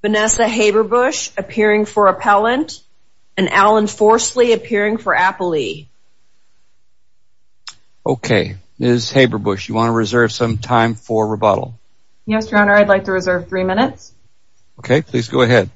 Vanessa Haberbush appearing for Appellant, and Alan Forsley appearing for Appalee. Okay, Ms. Haberbush, you want to reserve some time for rebuttal? Yes, Your Honor, I'd like to reserve three minutes. Okay, please go ahead.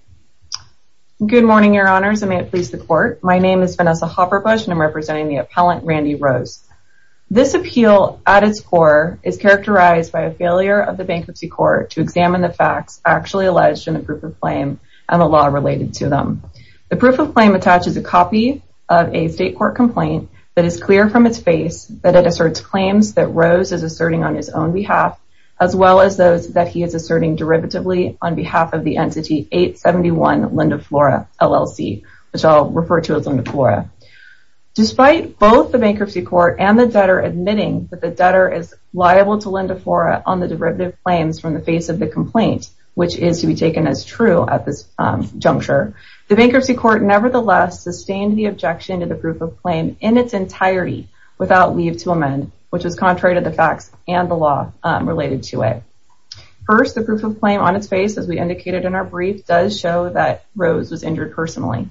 Good morning, Your Honors, and may it please the Court. My name is Vanessa Haberbush, and I'm representing the Court of Appeal. I'm here to speak on behalf of the Court of Appeal. I'm representing the appellant, Randy Rose. This appeal, at its core, is characterized by a failure of the bankruptcy court to examine the facts actually alleged in the proof of claim and the law related to them. The proof of claim attaches a copy of a state court complaint that is clear from its face that it asserts claims that Rose is asserting on his own behalf, as well as those that he is asserting derivatively on behalf of the entity 871 Linda Flora, LLC, which I'll refer to as Linda Flora. Despite both the bankruptcy court and the debtor admitting that the debtor is liable to Linda Flora on the derivative claims from the face of the complaint, which is to be taken as true at this juncture, the bankruptcy court nevertheless sustained the objection to the proof of claim in its entirety without leave to amend, which is contrary to the facts and the law related to it. First, the proof of claim on its face, as we indicated in our brief, does show that Rose was injured personally.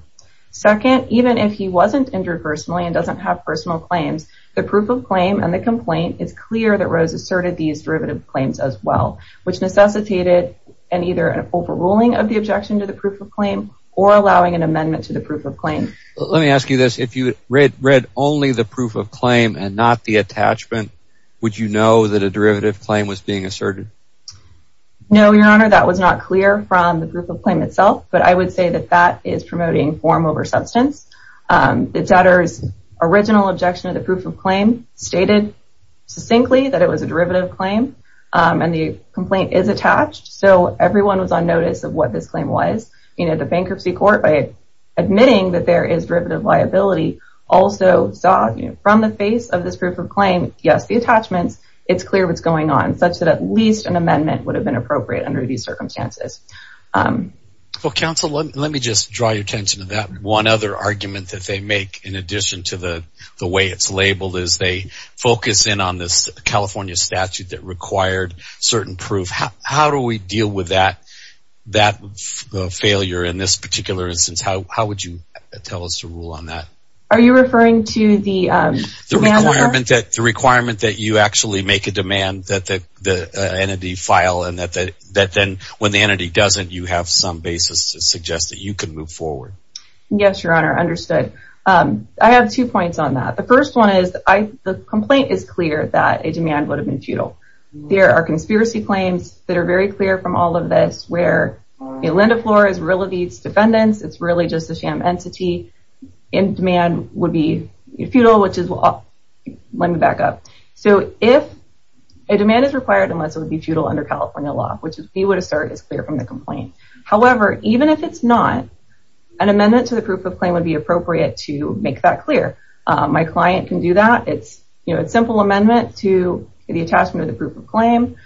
Second, even if he wasn't injured personally and doesn't have personal claims, the proof of claim and the complaint is clear that Rose asserted these derivative claims as well, which necessitated either an overruling of the objection to the proof of claim or allowing an amendment to the proof of claim. Let me ask you this. If you read only the proof of claim and not the attachment, would you know that a derivative claim was being asserted? No, Your Honor, that was not clear from the proof of claim itself, but I would say that that is promoting form over substance. The debtor's original objection to the proof of claim stated succinctly that it was a derivative claim and the complaint is attached, so everyone was on notice of what this claim was. The bankruptcy court, by admitting that there is derivative liability, also saw from the face of this proof of claim, yes, the attachments, it's clear what's going on, such that at least an amendment would have been appropriate under these circumstances. Counsel, let me just draw your attention to that. One other argument that they make, in addition to the way it's labeled, is they focus in on this California statute that required certain proof. How do we deal with that failure in this particular instance? How would you tell us to rule on that? Are you referring to the... The requirement that you actually make a demand that the entity file and that then when the entity doesn't, you have some basis to suggest that you can move forward. Yes, Your Honor, understood. I have two points on that. The first one is the complaint is clear that a demand would have been futile. There are conspiracy claims that are very clear from all of this where Linda Flores relegates defendants, it's really just a sham entity, and demand would be futile, which is... Let me back up. If a demand is required, unless it would be futile under California law, which we would assert is clear from the complaint. However, even if it's not, an amendment to the proof of claim would be appropriate to make that clear. My client can do that. It's a simple amendment to the attachment of the proof of claim.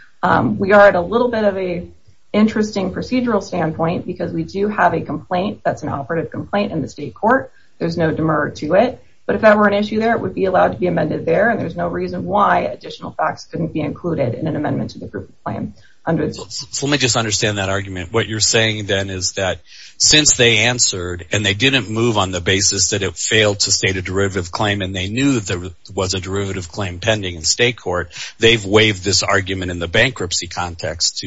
We are at a little bit of an interesting procedural standpoint because we do have a complaint that's an operative complaint in the state court. There's no demur to it. But if that were an issue there, it would be allowed to be amended there, and there's no reason why additional facts couldn't be included in an amendment to the proof of claim. Let me just understand that argument. What you're saying then is that since they answered and they didn't move on the basis that it failed to state a derivative claim and they knew that there was a derivative claim pending in state court, they've waived this argument in the bankruptcy context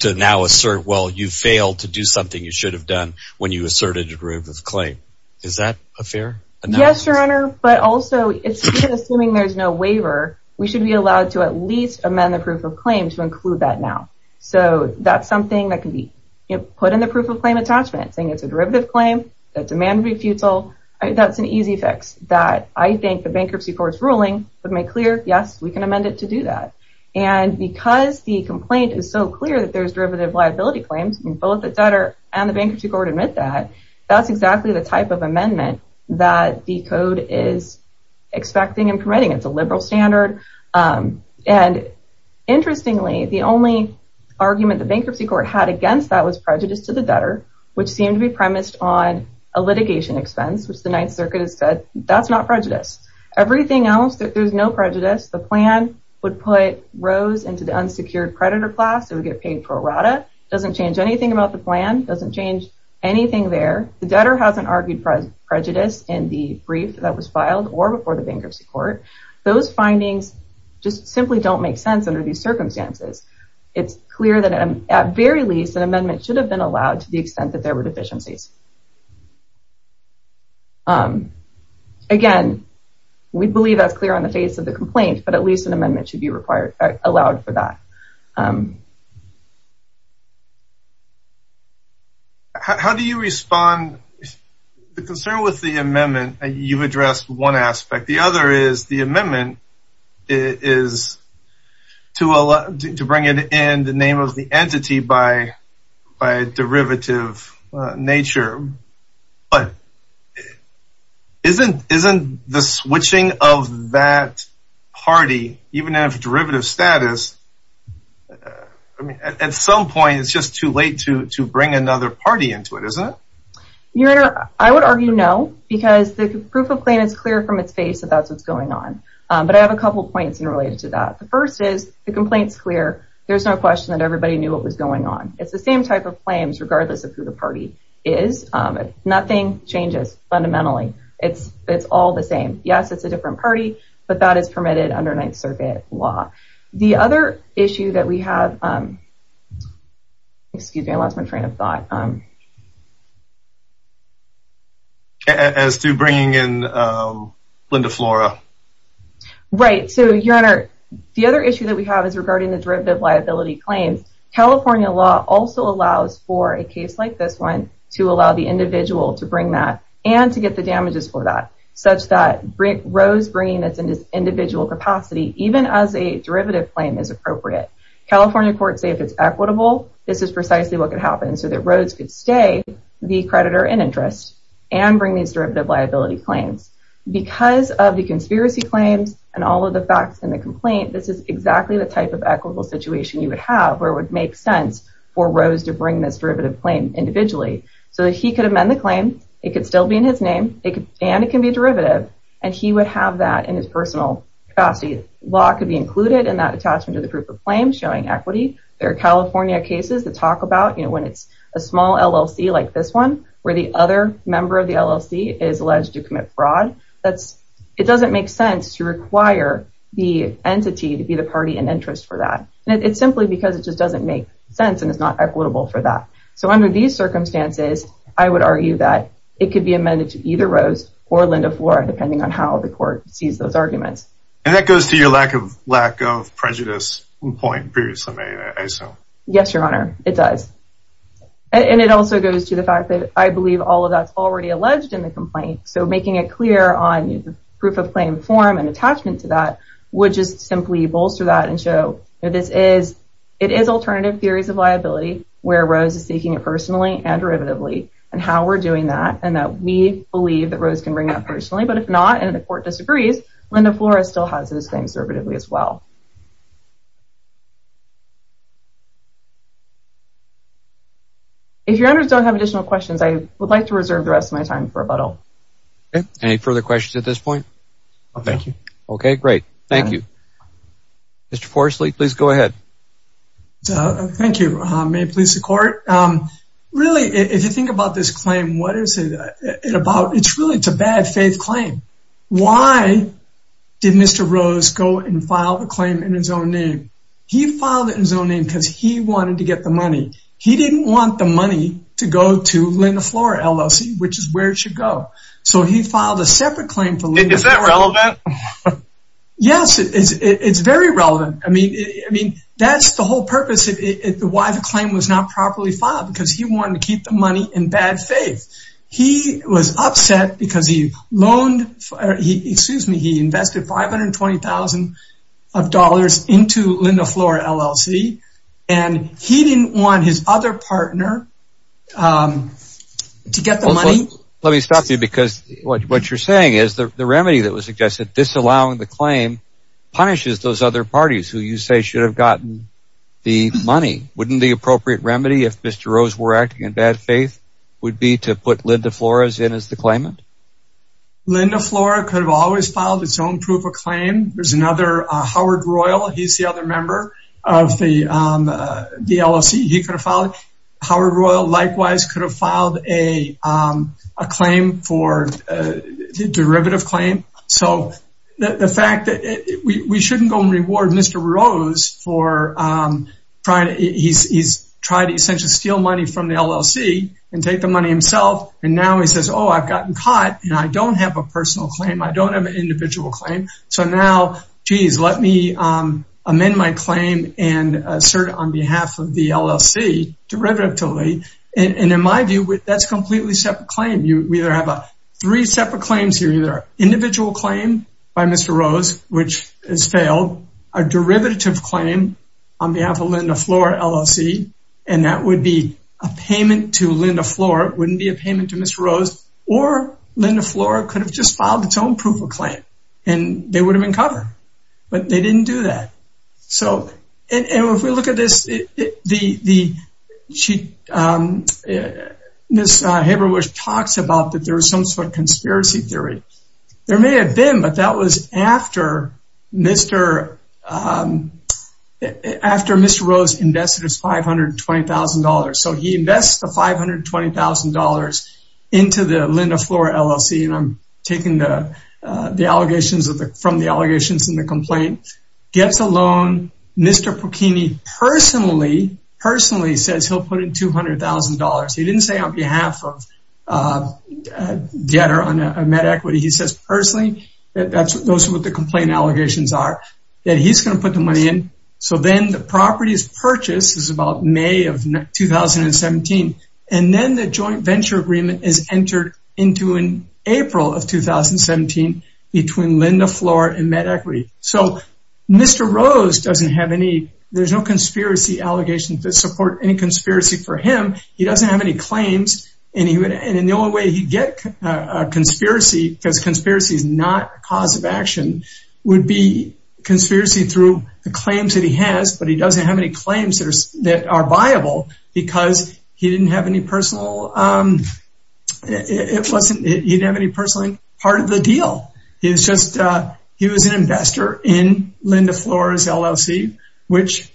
to now assert, well, you failed to do something you should have done when you asserted a derivative claim. Is that a fair analysis? Yes, Your Honor, but also, even assuming there's no waiver, we should be allowed to at least amend the proof of claim to include that now. So that's something that can be put in the proof of claim attachment, saying it's a derivative claim, that demand would be futile. That's an easy fix that I think the bankruptcy court's ruling would make clear, yes, we can amend it to do that. And because the complaint is so clear that there's derivative liability claims and both the debtor and the bankruptcy court admit that, that's exactly the type of amendment that the code is expecting and permitting. It's a liberal standard. And interestingly, the only argument the bankruptcy court had against that was prejudice to the debtor, which seemed to be premised on a litigation expense, which the Ninth Circuit has said that's not prejudice. Everything else, there's no prejudice. The plan would put Rose into the unsecured predator class. It would get paid for errata. It doesn't change anything about the plan. It doesn't change anything there. The debtor hasn't argued prejudice in the brief that was filed or before the bankruptcy court. Those findings just simply don't make sense under these circumstances. It's clear that, at very least, an amendment should have been allowed to the extent that there were deficiencies. Again, we believe that's clear on the face of the complaint, but at least an amendment should be allowed for that. How do you respond? The concern with the amendment, you've addressed one aspect. The other is the amendment is to bring it in the name of the entity by derivative nature, but isn't the switching of that party, even if derivative status, at some point, it's just too late to bring another party into it, isn't it? Your Honor, I would argue no, because the proof of claim is clear from its face that that's what's going on, but I have a couple of points related to that. The first is the complaint's clear. There's no question that everybody knew what was going on. It's the same type of claims, regardless of who the party is. Nothing changes fundamentally. It's all the same. Yes, it's a different party, but that is permitted under Ninth Circuit law. The other issue that we have, excuse me, I lost my train of thought. As to bringing in Linda Flora? Right, so, Your Honor, the other issue that we have is regarding the derivative liability claims. California law also allows for a case like this one to allow the individual to bring that, and to get the damages for that, such that Rose bringing this in an individual capacity, even as a derivative claim is appropriate. California courts say if it's equitable, this is precisely what could happen, so that Rose could stay the creditor in interest and bring these derivative liability claims. Because of the conspiracy claims, and all of the facts in the complaint, this is exactly the type of equitable situation you would have, where it would make sense for Rose to bring this derivative claim individually, so that he could amend the claim, it could still be in his name, and it can be a derivative, and he would have that in his personal capacity. Law could be included in that attachment to the proof of claim, showing equity. There are California cases that talk about, when it's a small LLC like this one, where the other member of the LLC is alleged to commit fraud, it doesn't make sense to require the entity to be the party in interest for that. It's simply because it just doesn't make sense, and it's not equitable for that. Under these circumstances, I would argue that it could be amended to either Rose or Linda Flora, depending on how the court sees those arguments. And that goes to your lack of prejudice point previously made, I assume. Yes, Your Honor, it does. And it also goes to the fact that, I believe all of that's already alleged in the complaint, so making it clear on the proof of claim form and attachment to that, would just simply bolster that and show, it is alternative theories of liability, where Rose is seeking it personally and derivatively, and how we're doing that, and that we believe that Rose can bring that personally, but if not, and the court disagrees, Linda Flora still has his claim servitively as well. If Your Honors don't have additional questions, I would like to reserve the rest of my time for rebuttal. Any further questions at this point? No, thank you. Okay, great. Thank you. Mr. Forestley, please go ahead. Thank you. May it please the Court. Really, if you think about this claim, what is it about? It's really, it's a bad faith claim. Why did Mr. Rose go and file the claim in his own name? He filed it in his own name because he wanted to get the money. He didn't want the money to go to Linda Flora LLC, which is where it should go. So he filed a separate claim for Linda Flora. Is that relevant? Yes, it's very relevant. I mean, that's the whole purpose, why the claim was not properly filed, because he wanted to keep the money in bad faith. He was upset because he loaned, excuse me, he invested $520,000 into Linda Flora LLC, and he didn't want his other partner to get the money. Let me stop you, because what you're saying is, the remedy that was suggested, disallowing the claim, punishes those other parties who you say should have gotten the money. Wouldn't the appropriate remedy, if Mr. Rose were acting in bad faith, would be to put Linda Flora's in as the claimant? Linda Flora could have always filed its own proof of claim. There's another, Howard Royal, he's the other member of the LLC, he could have filed it. Howard Royal likewise could have filed a claim for, a derivative claim. So the fact that we shouldn't go and reward Mr. Rose for trying to, he's tried to essentially steal money from the LLC, and take the money himself, and now he says, oh, I've gotten caught, and I don't have a personal claim, I don't have an individual claim. So now, geez, let me amend my claim, and assert it on behalf of the LLC, derivatively. And in my view, that's a completely separate claim. We either have three separate claims here, either an individual claim by Mr. Rose, which has failed, a derivative claim on behalf of Linda Flora LLC, and that would be a payment to Linda Flora, it wouldn't be a payment to Mr. Rose, or Linda Flora could have just filed its own proof of claim. And they would have been covered. But they didn't do that. So if we look at this, Ms. Haberwisch talks about that there was some sort of conspiracy theory. There may have been, but that was after Mr. Rose invested his $520,000. So he invests the $520,000 into the Linda Flora LLC, and I'm taking the allegations from the allegations in the complaint. Gets a loan. Mr. Porchini personally says he'll put in $200,000. He didn't say on behalf of debtor on a MedEquity. He says personally, that's what the complaint allegations are, that he's going to put the money in. So then the property is purchased. This is about May of 2017. And then the joint venture agreement is entered into in April of 2017 between Linda Flora and MedEquity. So Mr. Rose doesn't have any, there's no conspiracy allegations that support any conspiracy for him. He doesn't have any claims. And the only way he'd get a conspiracy, because conspiracy is not a cause of action, would be conspiracy through the claims that he has, but he doesn't have any claims that are viable because he didn't have any personal, it wasn't, he didn't have any personal part of the deal. He was just, he was an investor in Linda Flora's LLC, which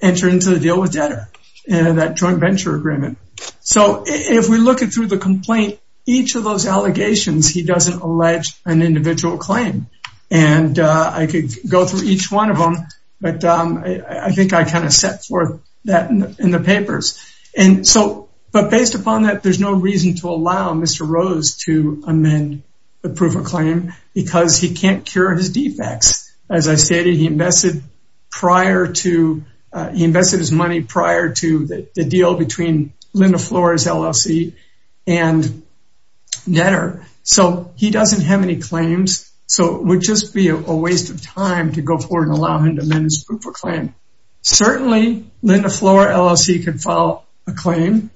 entered into the deal with debtor, that joint venture agreement. So if we look at through the complaint, each of those allegations, he doesn't allege an individual claim. And I could go through each one of them, but I think I kind of set forth that in the papers. And so, but based upon that, there's no reason to allow Mr. Rose to amend the proof of claim because he can't cure his defects. As I stated, he invested prior to, he invested his money prior to the deal between Linda Flora's LLC and debtor. So he doesn't have any claims. So it would just be a waste of time to go forward and allow him to amend his proof of claim. Certainly Linda Flora LLC could file a claim.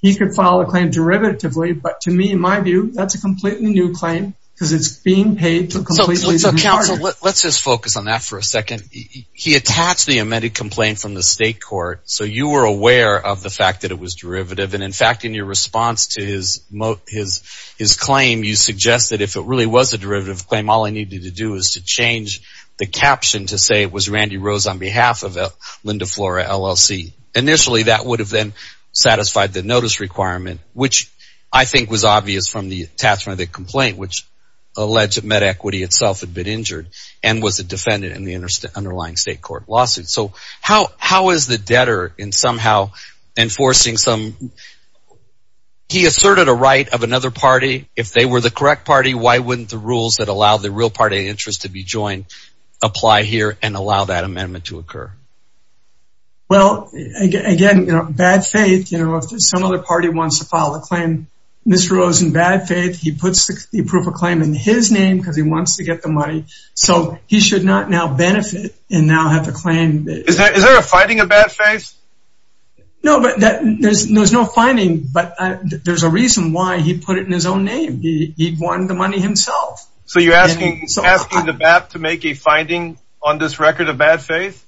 He could file a claim derivatively, but to me, in my view, that's a completely new claim because it's being paid. So counsel, let's just focus on that for a second. He attached the amended complaint from the state court. So you were aware of the fact that it was derivative. And in fact, in your response to his, his, his claim, you suggested if it really was a derivative claim, all I needed to do is to change the caption to say it was Randy Rose on behalf of Linda Flora LLC. Initially that would have then satisfied the notice requirement, which I think was obvious from the attachment of the complaint, which alleged that MedEquity itself had been injured and was a defendant in the underlying state court lawsuit. So how, how is the debtor in somehow enforcing some, he asserted a right of another party. If they were the correct party, why wouldn't the rules that allow the real party interest to be joined apply here and allow that amendment to occur? Well, again, you know, bad faith, you know, if some other party wants to file a claim, Mr. Rose in bad faith, he puts the proof of claim in his name because he wants to get the money. So he should not now benefit and now have the claim. Is there, is there a fighting of bad faith? No, but that there's, there's no finding, but there's a reason why he put it in his own name. He'd won the money himself. So you're asking the BAP to make a finding on this record of bad faith?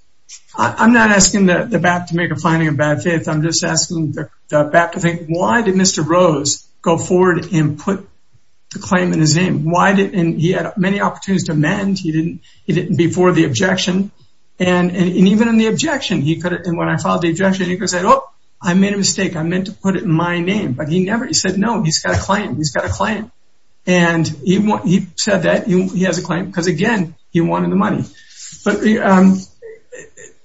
I'm not asking the BAP to make a finding of bad faith. I'm just asking the BAP to think, why did Mr. Rose go forward and put the claim in his name? Why did, and he had many opportunities to amend. He didn't, he didn't before the objection. And, and even in the objection, he could have, and when I filed the objection, he could have said, Oh, I made a mistake. I meant to put it in my name, but he never, he said, no, he's got a claim. He's got a claim. And he said that he has a claim because again, he wanted the money. But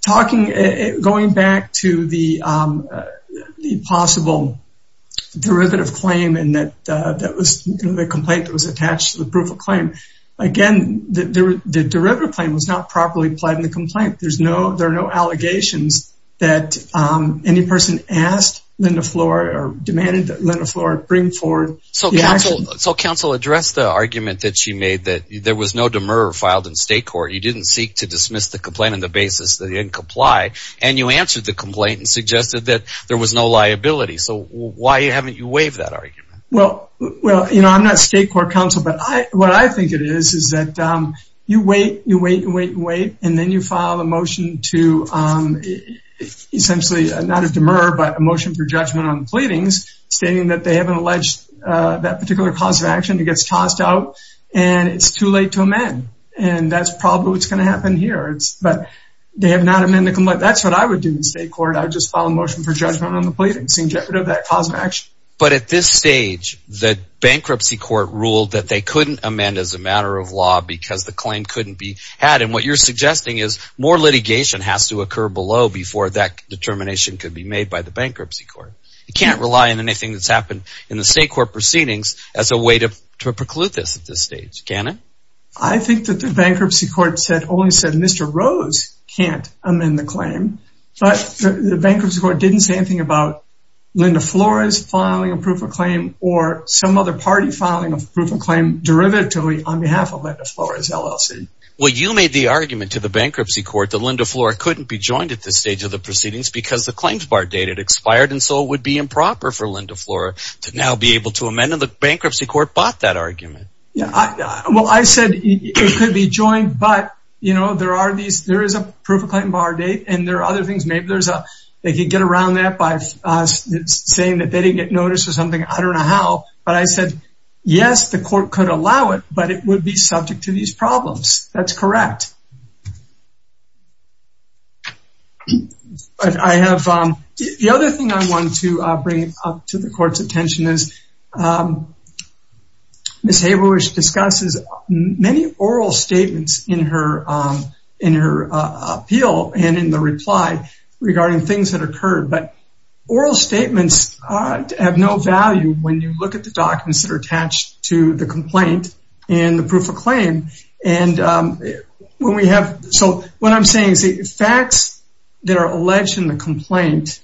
talking, going back to the possible derivative claim and that, that was the complaint that was attached to the proof of claim. Again, the derivative claim was not properly applied in the complaint. There's no, there are no allegations that, um, any person asked Linda Floor or demanded that Linda Floor bring forward. So counsel, so counsel addressed the argument that she made, that there was no demur filed in state court. You didn't seek to dismiss the complaint on the basis that he didn't comply. And you answered the complaint and suggested that there was no liability. So why haven't you waived that argument? Well, well, you know, I'm not state court counsel, but I, what I think it is is that, um, you wait, you wait and wait and wait. And then you file a motion to, um, essentially not a demur, but a motion for judgment on the pleadings stating that they haven't alleged, uh, that particular cause of action. It gets tossed out and it's too late to amend. And that's probably what's going to happen here. It's, but they have not amended the complaint. That's what I would do in state court. I would just file a motion for judgment on the pleadings in jeopardy of that cause of action. But at this stage, the bankruptcy court ruled that they couldn't amend as a matter of law because the claim couldn't be had. And what you're suggesting is more litigation has to occur below before that determination could be made by the bankruptcy court. You can't rely on anything that's happened in the state court proceedings as a way to, to preclude this at this stage. Can it? Rose can't amend the claim, but the bankruptcy court didn't say anything about Linda Flores filing a proof of claim or some other party filing a proof of claim derivatively on behalf of Linda Flores LLC. Well, you made the argument to the bankruptcy court that Linda Flores couldn't be joined at this stage of the proceedings because the claims bar date had expired. And so it would be improper for Linda Flores to now be able to amend and the bankruptcy court bought that argument. Yeah. I said it could be joined, but you know, there are these, there is a proof of claim bar date and there are other things, maybe there's a, they could get around that by saying that they didn't get noticed or something. I don't know how, but I said, yes, the court could allow it, but it would be subject to these problems. That's correct. I have, the other thing I wanted to bring up to the court's attention is Ms. Flores, and I'm going to go back to her appeal and in the reply regarding things that occurred, but oral statements have no value when you look at the documents that are attached to the complaint and the proof of claim. And when we have, so what I'm saying is the facts that are alleged in the complaint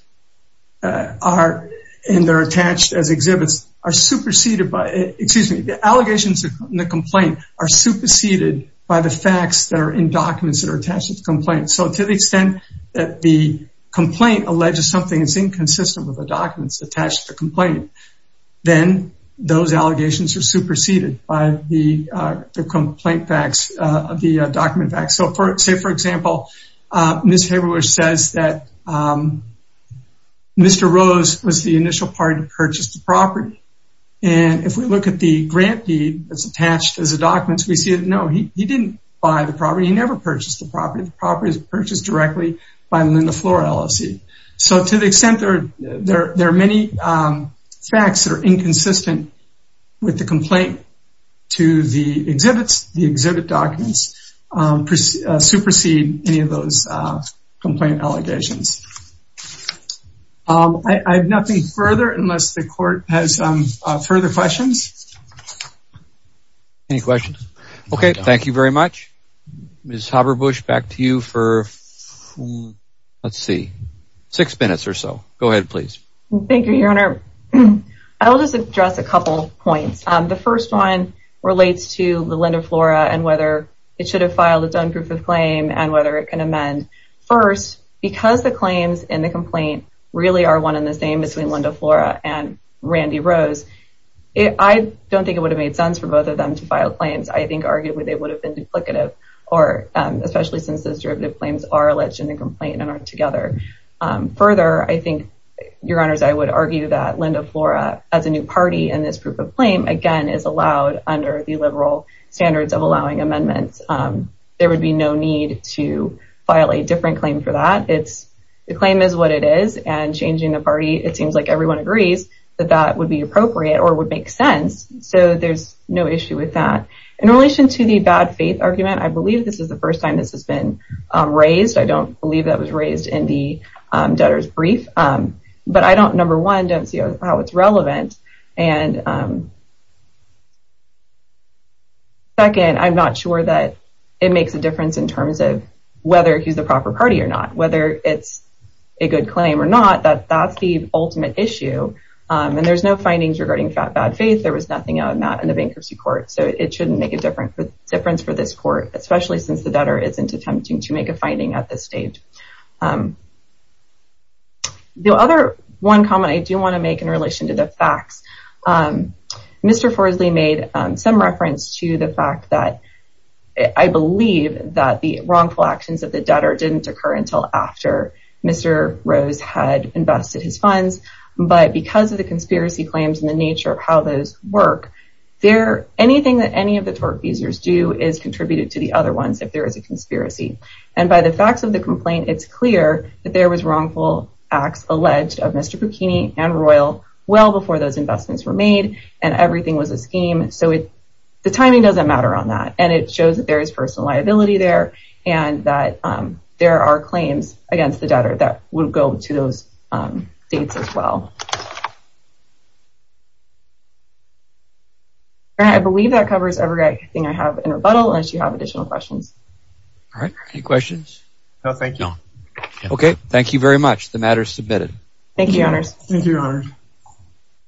are, and they're attached as exhibits, are superseded by, excuse me, the allegations in the complaint are superseded by the facts that are in the documents of the complaint. So to the extent that the complaint alleges something that's inconsistent with the documents attached to the complaint, then those allegations are superseded by the complaint facts, the document facts. So say, for example, Ms. Haberwisch says that Mr. Rose was the initial party to purchase the property. And if we look at the grant deed that's attached as a document, we see that, no, he didn't buy the property. He never purchased the property. The property was purchased directly by Linda Flora LLC. So to the extent there are many facts that are inconsistent with the complaint to the exhibits, the exhibit documents supersede any of those complaint allegations. I have nothing further unless the court has further questions. Any questions? Okay, thank you very much. Ms. Haberwisch, back to you for, let's see, six minutes or so. Go ahead, please. Thank you, your honor. I will just address a couple of points. The first one relates to the Linda Flora and whether it should have filed a done proof of claim and whether it can amend first because the claims in the complaint really are one in the same between Linda Flora and Randy Rose. I don't think it would have made sense for both of them to file claims. I think arguably they would have been duplicative or especially since those derivative claims are alleged in the complaint and aren't together. Further, I think your honors, I would argue that Linda Flora as a new party and this proof of claim, again, is allowed under the liberal standards of allowing amendments. There would be no need to file a different claim for that. It's the claim is what it is and changing the party. It seems like everyone agrees that that would be appropriate or would make sense. So there's no issue with that. In relation to the bad faith argument, I believe this is the first time this has been raised. I don't believe that was raised in the debtor's brief, but I don't, number one, don't see how it's relevant. And second, I'm not sure that it makes a difference in terms of whether he's the proper party or not, whether it's a good claim or not, that that's the ultimate issue. And there's no findings regarding fat, nothing on that in the bankruptcy court. So it shouldn't make a difference for this court, especially since the better isn't attempting to make a finding at this stage. The other one comment I do want to make in relation to the facts, Mr. Forsley made some reference to the fact that I believe that the wrongful actions of the debtor didn't occur until after Mr. Rose had invested his funds. But because of the conspiracy claims and the nature of how those work, there, anything that any of the tortfeasors do is contributed to the other ones. If there is a conspiracy and by the facts of the complaint, it's clear that there was wrongful acts alleged of Mr. Bikini and Royal. Well, before those investments were made and everything was a scheme. So it, the timing doesn't matter on that. And it shows that there is personal liability there and that there are claims against the debtor that would go to those dates as well. And I believe that covers everything I have in rebuttal unless you have additional questions. All right. Any questions? No, thank you. Okay. The matter is submitted. Thank you, your honors.